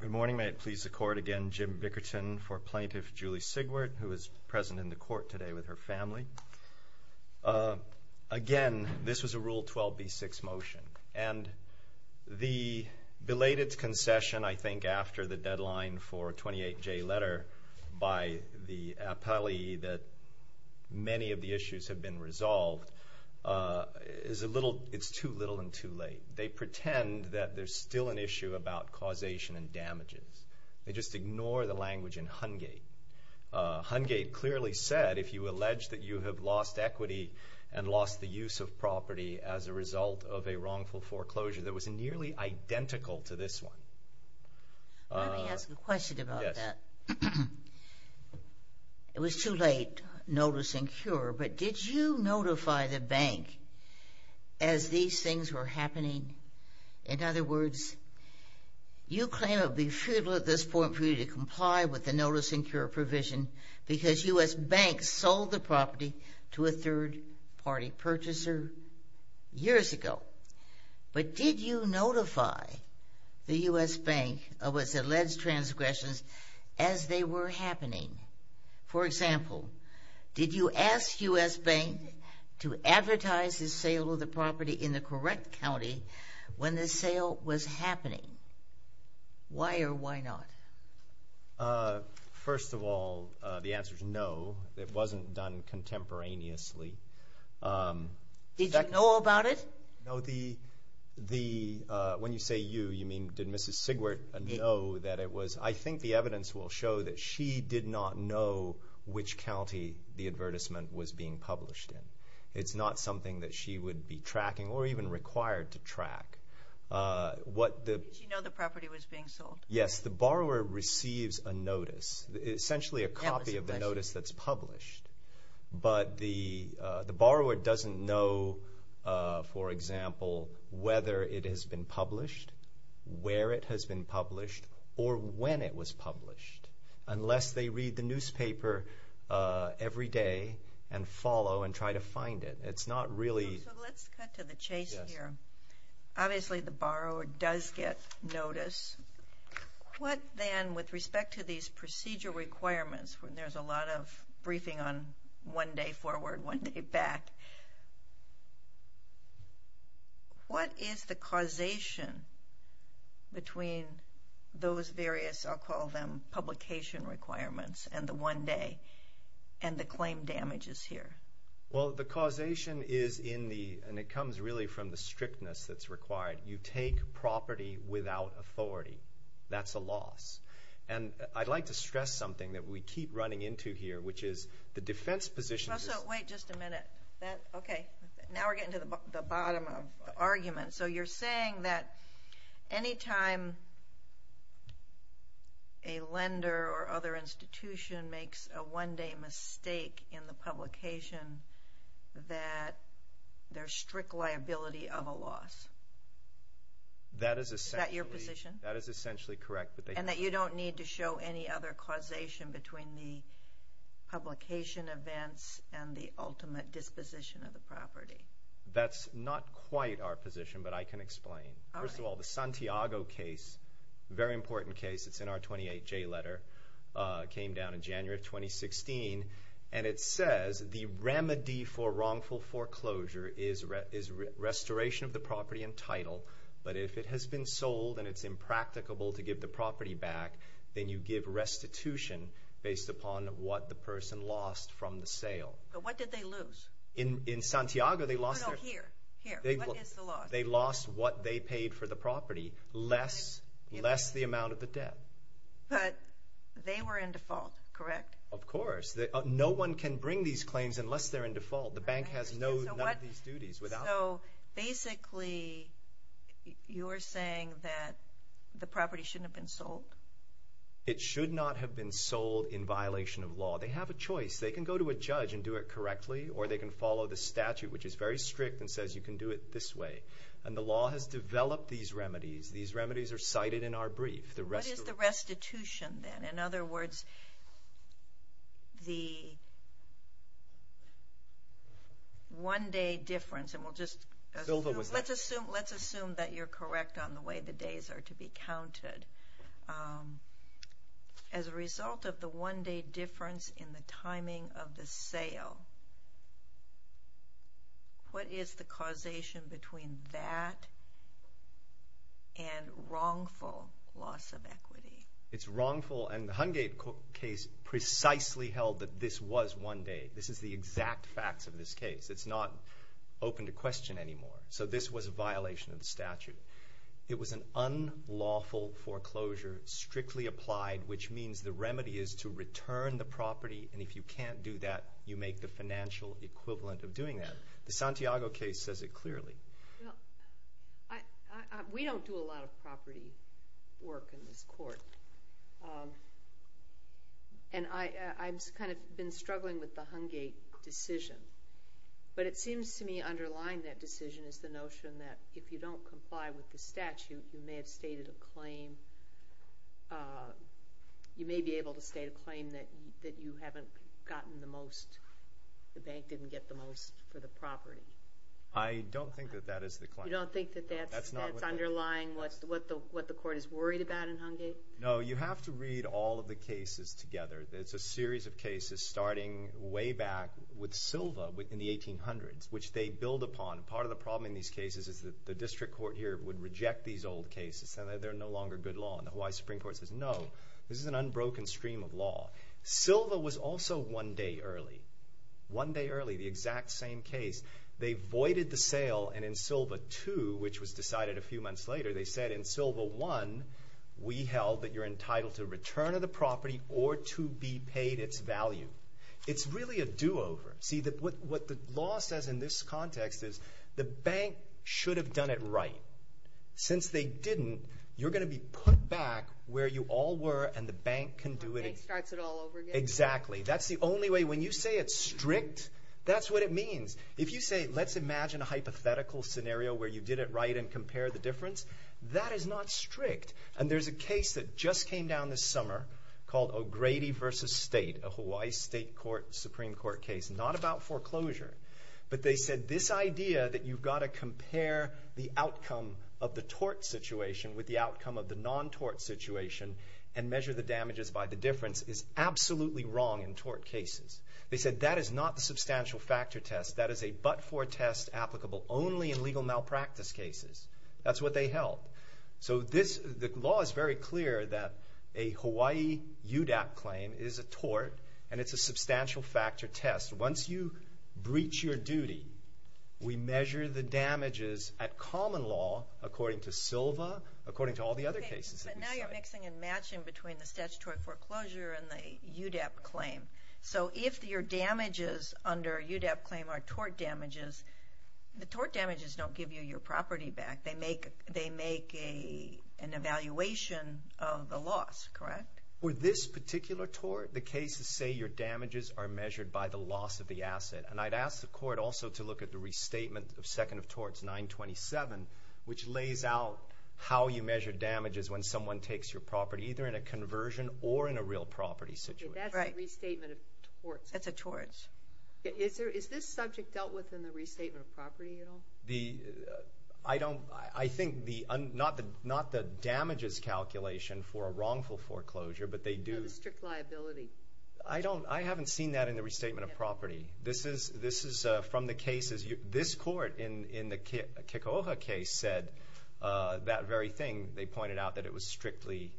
Good morning. May it please the Court again, Jim Bickerton for Plaintiff Julie Sigwart, who is present in the Court today with her family. Again, this was a Rule 12b-6 motion, and the belated concession, I think, after the deadline for a 28-J letter by the appellee that many of the issues have been resolved, it's too little and too late. They pretend that there's still an issue about causation and damages. They just ignore the language in Hungate. Hungate clearly said, if you allege that you have lost equity and lost the use of property as a result of a wrongful foreclosure, that was nearly identical to this one. Let me ask a question about that. It was too late, notice and cure, but did you notify the bank as these things were happening? In other words, you claim it would be futile at this point for you to comply with the notice and cure provision because U.S. Bank sold the property to a third-party purchaser years ago. But did you notify the U.S. Bank of its alleged transgressions as they were happening? For example, did you ask U.S. Bank to advertise the sale of the property in the correct county when the sale was happening? Why or why not? First of all, the answer is no. It wasn't done contemporaneously. Did you know about it? No. When you say you, you mean did Mrs. Sigwert know that it was? I think the evidence will show that she did not know which county the advertisement was being published in. It's not something that she would be tracking or even required to track. Did she know the property was being sold? Yes. The borrower receives a notice, essentially a copy of the notice that's published, but the borrower doesn't know, for example, whether it has been published, where it has been published, or when it was published, unless they read the newspaper every day and follow and try to find it. It's not really. So let's cut to the chase here. Obviously, the borrower does get notice. What then, with respect to these procedure requirements, when there's a lot of briefing on one day forward, one day back, what is the causation between those various, I'll call them, publication requirements and the one day and the claim damages here? Well, the causation is in the, and it comes really from the strictness that's required. You take property without authority. That's a loss. And I'd like to stress something that we keep running into here, which is the defense position. Russell, wait just a minute. Okay, now we're getting to the bottom of the argument. So you're saying that any time a lender or other institution makes a one-day mistake in the publication, that there's strict liability of a loss. Is that your position? That is essentially correct. And that you don't need to show any other causation between the publication events and the ultimate disposition of the property. That's not quite our position, but I can explain. First of all, the Santiago case, a very important case. It's in our 28J letter. It came down in January of 2016. And it says the remedy for wrongful foreclosure is restoration of the property and title. But if it has been sold and it's impracticable to give the property back, then you give restitution based upon what the person lost from the sale. But what did they lose? In Santiago, they lost their- No, no, here. Here. What is the loss? They lost what they paid for the property, less the amount of the debt. But they were in default, correct? Of course. No one can bring these claims unless they're in default. The bank has none of these duties. So, basically, you're saying that the property shouldn't have been sold? It should not have been sold in violation of law. They have a choice. They can go to a judge and do it correctly, or they can follow the statute, which is very strict and says you can do it this way. And the law has developed these remedies. These remedies are cited in our brief. What is the restitution then? In other words, the one-day difference, and we'll just- Silva was there. Let's assume that you're correct on the way the days are to be counted. As a result of the one-day difference in the timing of the sale, what is the causation between that and wrongful loss of equity? It's wrongful, and the Hungate case precisely held that this was one day. This is the exact facts of this case. It's not open to question anymore. So this was a violation of the statute. It was an unlawful foreclosure, strictly applied, which means the remedy is to return the property, and if you can't do that, you make the financial equivalent of doing that. The Santiago case says it clearly. Well, we don't do a lot of property work in this court, and I've kind of been struggling with the Hungate decision. But it seems to me underlying that decision is the notion that if you don't comply with the statute, you may have stated a claim. You may be able to state a claim that you haven't gotten the most, the bank didn't get the most for the property. I don't think that that is the claim. You don't think that that's underlying what the court is worried about in Hungate? No. You have to read all of the cases together. It's a series of cases starting way back with Silva in the 1800s, which they build upon. Part of the problem in these cases is that the district court here would reject these old cases and that they're no longer good law, and the Hawaii Supreme Court says, no, this is an unbroken stream of law. Silva was also one day early, one day early, the exact same case. They voided the sale, and in Silva 2, which was decided a few months later, they said in Silva 1, we held that you're entitled to return of the property or to be paid its value. It's really a do-over. See, what the law says in this context is the bank should have done it right. Since they didn't, you're going to be put back where you all were and the bank can do it again. The bank starts it all over again. Exactly. That's the only way. And when you say it's strict, that's what it means. If you say, let's imagine a hypothetical scenario where you did it right and compared the difference, that is not strict. And there's a case that just came down this summer called O'Grady v. State, a Hawaii State Supreme Court case, not about foreclosure, but they said this idea that you've got to compare the outcome of the tort situation with the outcome of the non-tort situation and measure the damages by the difference is absolutely wrong in tort cases. They said that is not the substantial factor test. That is a but-for test applicable only in legal malpractice cases. That's what they held. So the law is very clear that a Hawaii UDAP claim is a tort and it's a substantial factor test. Once you breach your duty, we measure the damages at common law, according to Silva, according to all the other cases that we cite. But now you're mixing and matching between the statutory foreclosure and the UDAP claim. So if your damages under a UDAP claim are tort damages, the tort damages don't give you your property back. They make an evaluation of the loss, correct? For this particular tort, the cases say your damages are measured by the loss of the asset. And I'd ask the court also to look at the restatement of Second of Torts 927, which lays out how you measure damages when someone takes your property, either in a conversion or in a real property situation. That's a restatement of torts. That's a torts. Is this subject dealt with in the restatement of property at all? I think not the damages calculation for a wrongful foreclosure, but they do. No, the strict liability. I haven't seen that in the restatement of property. This is from the cases. This court in the Kekoa case said that very thing. They pointed out that it was strictly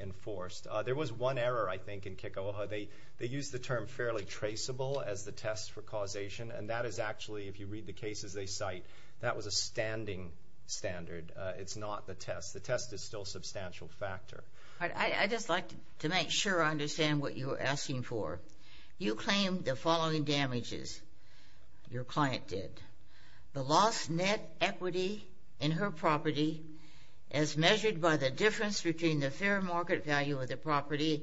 enforced. There was one error, I think, in Kekoa. They used the term fairly traceable as the test for causation, and that is actually, if you read the cases they cite, that was a standing standard. It's not the test. The test is still a substantial factor. I'd just like to make sure I understand what you're asking for. You claim the following damages your client did. The lost net equity in her property as measured by the difference between the fair market value of the property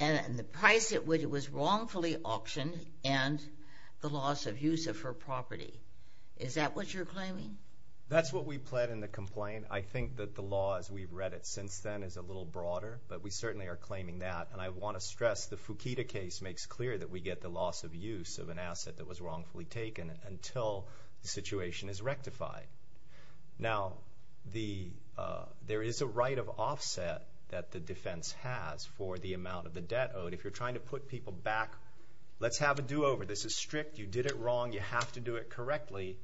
and the price at which it was wrongfully auctioned and the loss of use of her property. Is that what you're claiming? That's what we pled in the complaint. I think that the law, as we've read it since then, is a little broader, but we certainly are claiming that. And I want to stress the Fukuda case makes clear that we get the loss of use of an asset that was wrongfully taken until the situation is rectified. Now, there is a right of offset that the defense has for the amount of the debt owed. If you're trying to put people back, let's have a do-over. This is strict. You did it wrong. You have to do it correctly.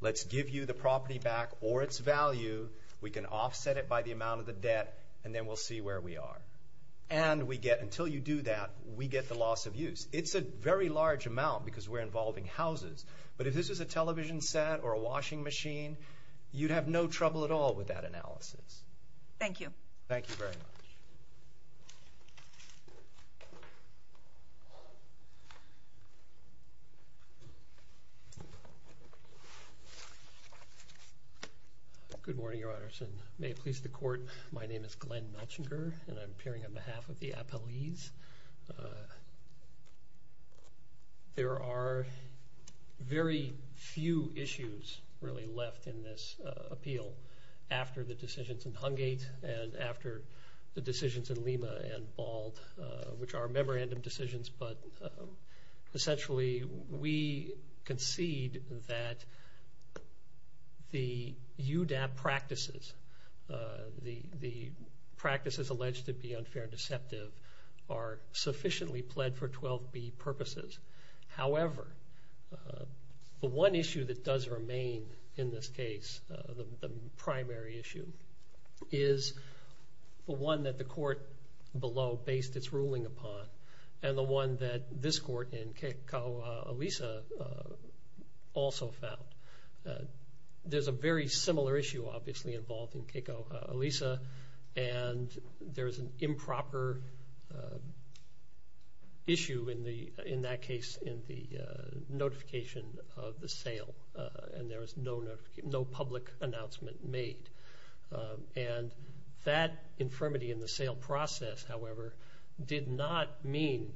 Let's give you the property back or its value. We can offset it by the amount of the debt, and then we'll see where we are. And until you do that, we get the loss of use. It's a very large amount because we're involving houses, but if this was a television set or a washing machine, you'd have no trouble at all with that analysis. Thank you. Thank you very much. Thank you very much. Good morning, Your Honor. May it please the Court, my name is Glenn Melchinger, and I'm appearing on behalf of the appellees. There are very few issues really left in this appeal. After the decisions in Hungate and after the decisions in Lima and Bald, which are memorandum decisions, but essentially we concede that the UDAP practices, the practices alleged to be unfair and deceptive, are sufficiently pled for 12B purposes. However, the one issue that does remain in this case, the primary issue, is the one that the court below based its ruling upon and the one that this court in Keiko, Alisa, also found. There's a very similar issue obviously involved in Keiko, Alisa, and there's an improper issue in that case in the notification of the sale and there was no public announcement made. And that infirmity in the sale process, however, did not mean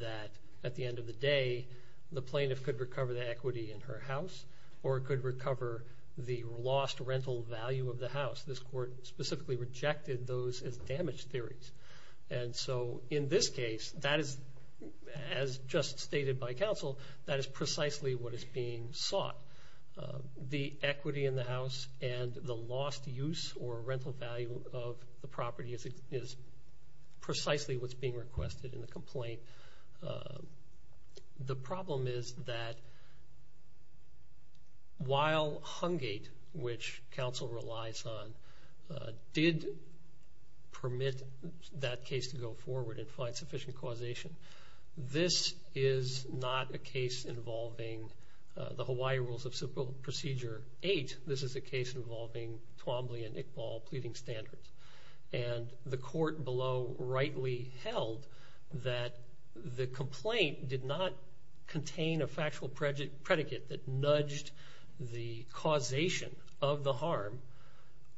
that at the end of the day the plaintiff could recover the equity in her house or could recover the lost rental value of the house. This court specifically rejected those as damage theories. And so in this case, as just stated by counsel, that is precisely what is being sought. The equity in the house and the lost use or rental value of the property is precisely what's being requested in the complaint. The problem is that while Hungate, which counsel relies on, did permit that case to go forward and find sufficient causation, this is not a case involving the Hawaii Rules of Procedure 8. This is a case involving Twombly and Iqbal pleading standards. And the court below rightly held that the complaint did not contain a factual predicate that nudged the causation of the harm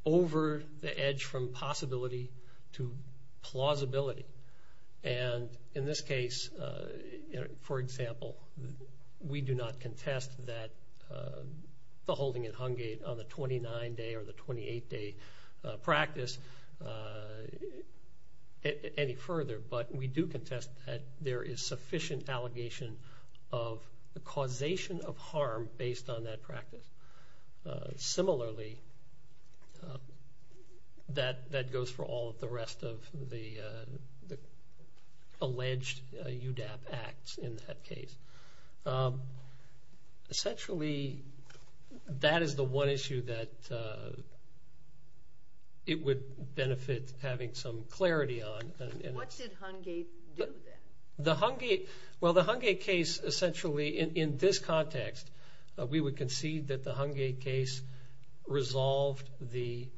over the edge from possibility to plausibility. And in this case, for example, we do not contest that the holding at Hungate on the 29-day or the 28-day practice any further, but we do contest that there is sufficient allegation of causation of harm based on that practice. Similarly, that goes for all of the rest of the alleged UDAP acts in that case. Essentially, that is the one issue that it would benefit having some clarity on. What did Hungate do then? Well, the Hungate case essentially in this context, we would concede that the Hungate case resolved the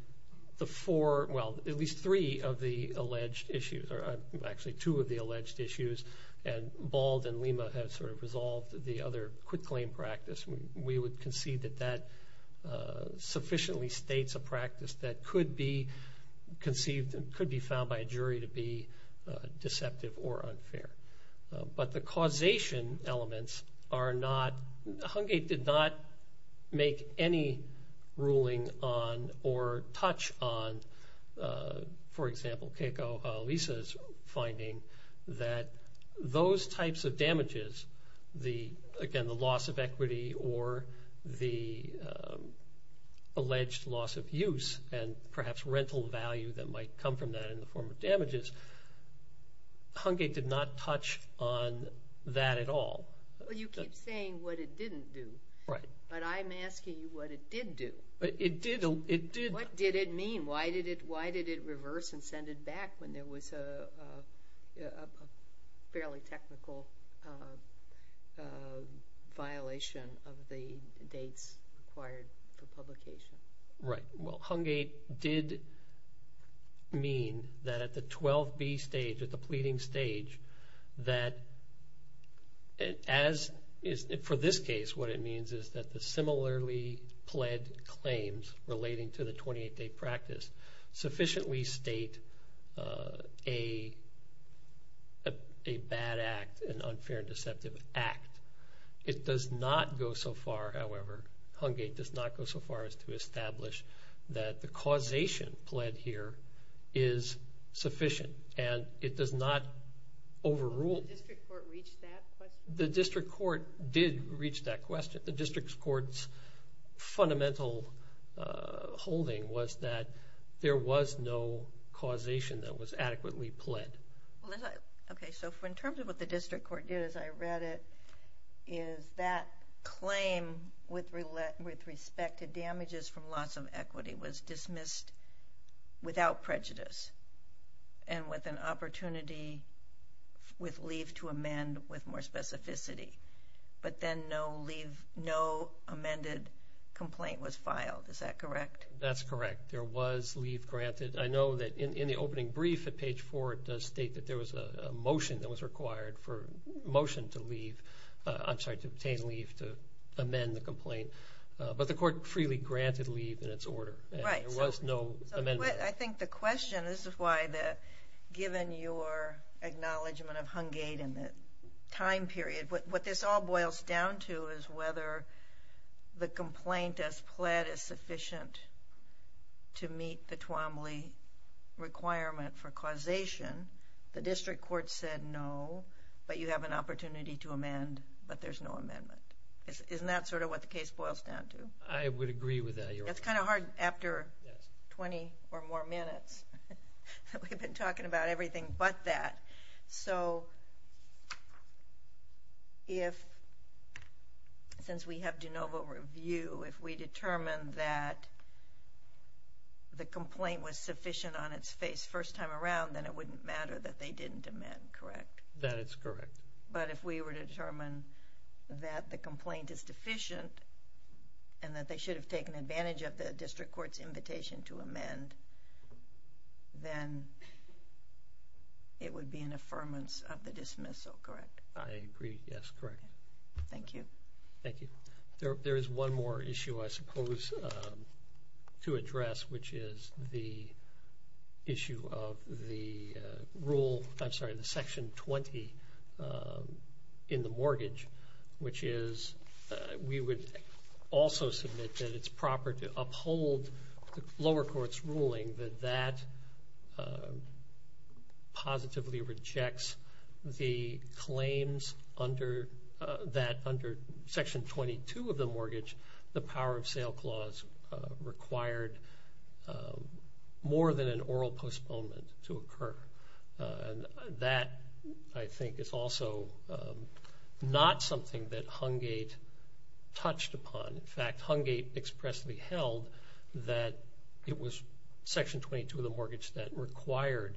four, well at least three of the alleged issues or actually two of the alleged issues and Bald and Lima have sort of resolved the other quitclaim practice. We would concede that that sufficiently states a practice that could be conceived and could be found by a jury to be deceptive or unfair. But the causation elements are not, Hungate did not make any ruling on or touch on, for example, Keiko Alisa's finding that those types of damages, again the loss of equity or the alleged loss of use and perhaps rental value that might come from that in the form of damages, Hungate did not touch on that at all. Well, you keep saying what it didn't do. Right. But I'm asking you what it did do. It did. What did it mean? Why did it reverse and send it back when there was a fairly technical violation of the dates required for publication? Right. Well, Hungate did mean that at the 12B stage, at the pleading stage, that for this case what it means is that the similarly pled claims relating to the 28-day practice sufficiently state a bad act, an unfair and deceptive act. It does not go so far, however, Hungate does not go so far as to establish that the causation pled here is sufficient and it does not overrule. Did the district court reach that question? The district court did reach that question. The district court's fundamental holding was that there was no causation that was adequately pled. Okay. So in terms of what the district court did, as I read it, is that claim with respect to damages from loss of equity was dismissed without prejudice and with an opportunity with leave to amend with more specificity, but then no amended complaint was filed. Is that correct? That's correct. There was leave granted. I know that in the opening brief at page 4 it does state that there was a motion that was required for motion to leave, I'm sorry, to obtain leave to amend the complaint, but the court freely granted leave in its order. Right. There was no amendment. I think the question, this is why given your acknowledgment of Hungate and the time period, what this all boils down to is whether the complaint as pled is sufficient to meet the Twombly requirement for causation. The district court said no, but you have an opportunity to amend, but there's no amendment. Isn't that sort of what the case boils down to? I would agree with that, Your Honor. It's kind of hard after 20 or more minutes that we've been talking about everything but that. So since we have de novo review, if we determine that the complaint was sufficient on its face first time around, then it wouldn't matter that they didn't amend, correct? That is correct. But if we were to determine that the complaint is deficient and that they should have taken advantage of the district court's invitation to amend, then it would be an affirmance of the dismissal, correct? I agree. Yes, correct. Thank you. Thank you. There is one more issue I suppose to address, which is the issue of the rule, I'm sorry, under the Section 20 in the mortgage, which is we would also submit that it's proper to uphold the lower court's ruling that that positively rejects the claims under Section 22 of the mortgage, the power of sale clause required more than an oral postponement to occur. That, I think, is also not something that Hungate touched upon. In fact, Hungate expressly held that it was Section 22 of the mortgage that required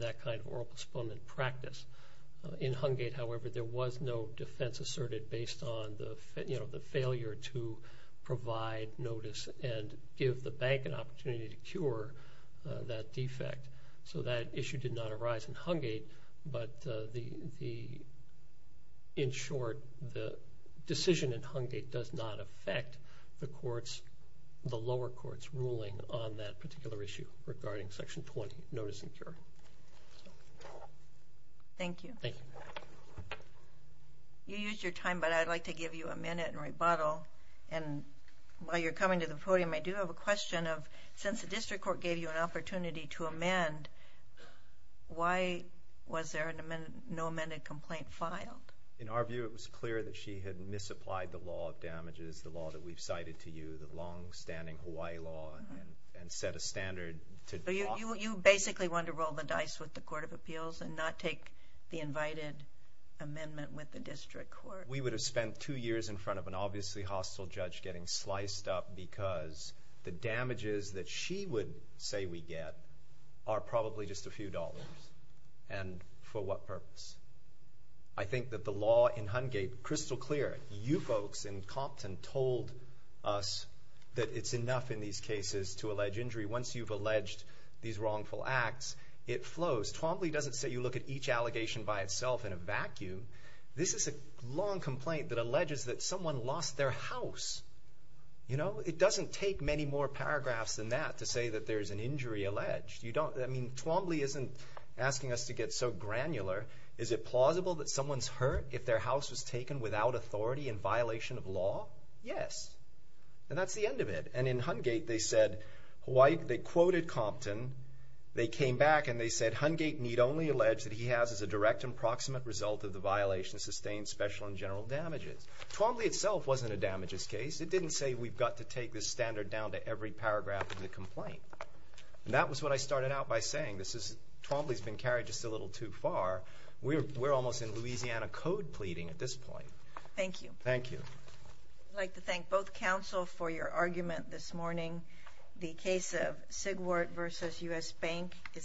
that kind of oral postponement practice. In Hungate, however, there was no defense asserted based on the failure to provide notice and give the bank an opportunity to cure that defect. So that issue did not arise in Hungate. But in short, the decision in Hungate does not affect the lower court's ruling on that particular issue regarding Section 20, notice and cure. Thank you. Thank you. You used your time, but I'd like to give you a minute and rebuttal. And while you're coming to the podium, I do have a question of, since the district court gave you an opportunity to amend, why was there no amended complaint filed? In our view, it was clear that she had misapplied the law of damages, the law that we've cited to you, the longstanding Hawaii law, and set a standard to block it. So you basically wanted to roll the dice with the Court of Appeals and not take the invited amendment with the district court. We would have spent two years in front of an obviously hostile judge getting sliced up because the damages that she would say we get are probably just a few dollars. And for what purpose? I think that the law in Hungate, crystal clear, you folks in Compton told us that it's enough in these cases to allege injury. Once you've alleged these wrongful acts, it flows. Twombly doesn't say you look at each allegation by itself in a vacuum. This is a long complaint that alleges that someone lost their house. It doesn't take many more paragraphs than that to say that there's an injury alleged. I mean, Twombly isn't asking us to get so granular. Is it plausible that someone's hurt if their house was taken without authority in violation of law? Yes, and that's the end of it. And in Hungate, they quoted Compton. They came back and they said, Twombly itself wasn't a damages case. It didn't say we've got to take this standard down to every paragraph of the complaint. And that was what I started out by saying. Twombly's been carried just a little too far. We're almost in Louisiana code pleading at this point. Thank you. Thank you. I'd like to thank both counsel for your argument this morning. The case of Sigwart v. U.S. Bank is submitted.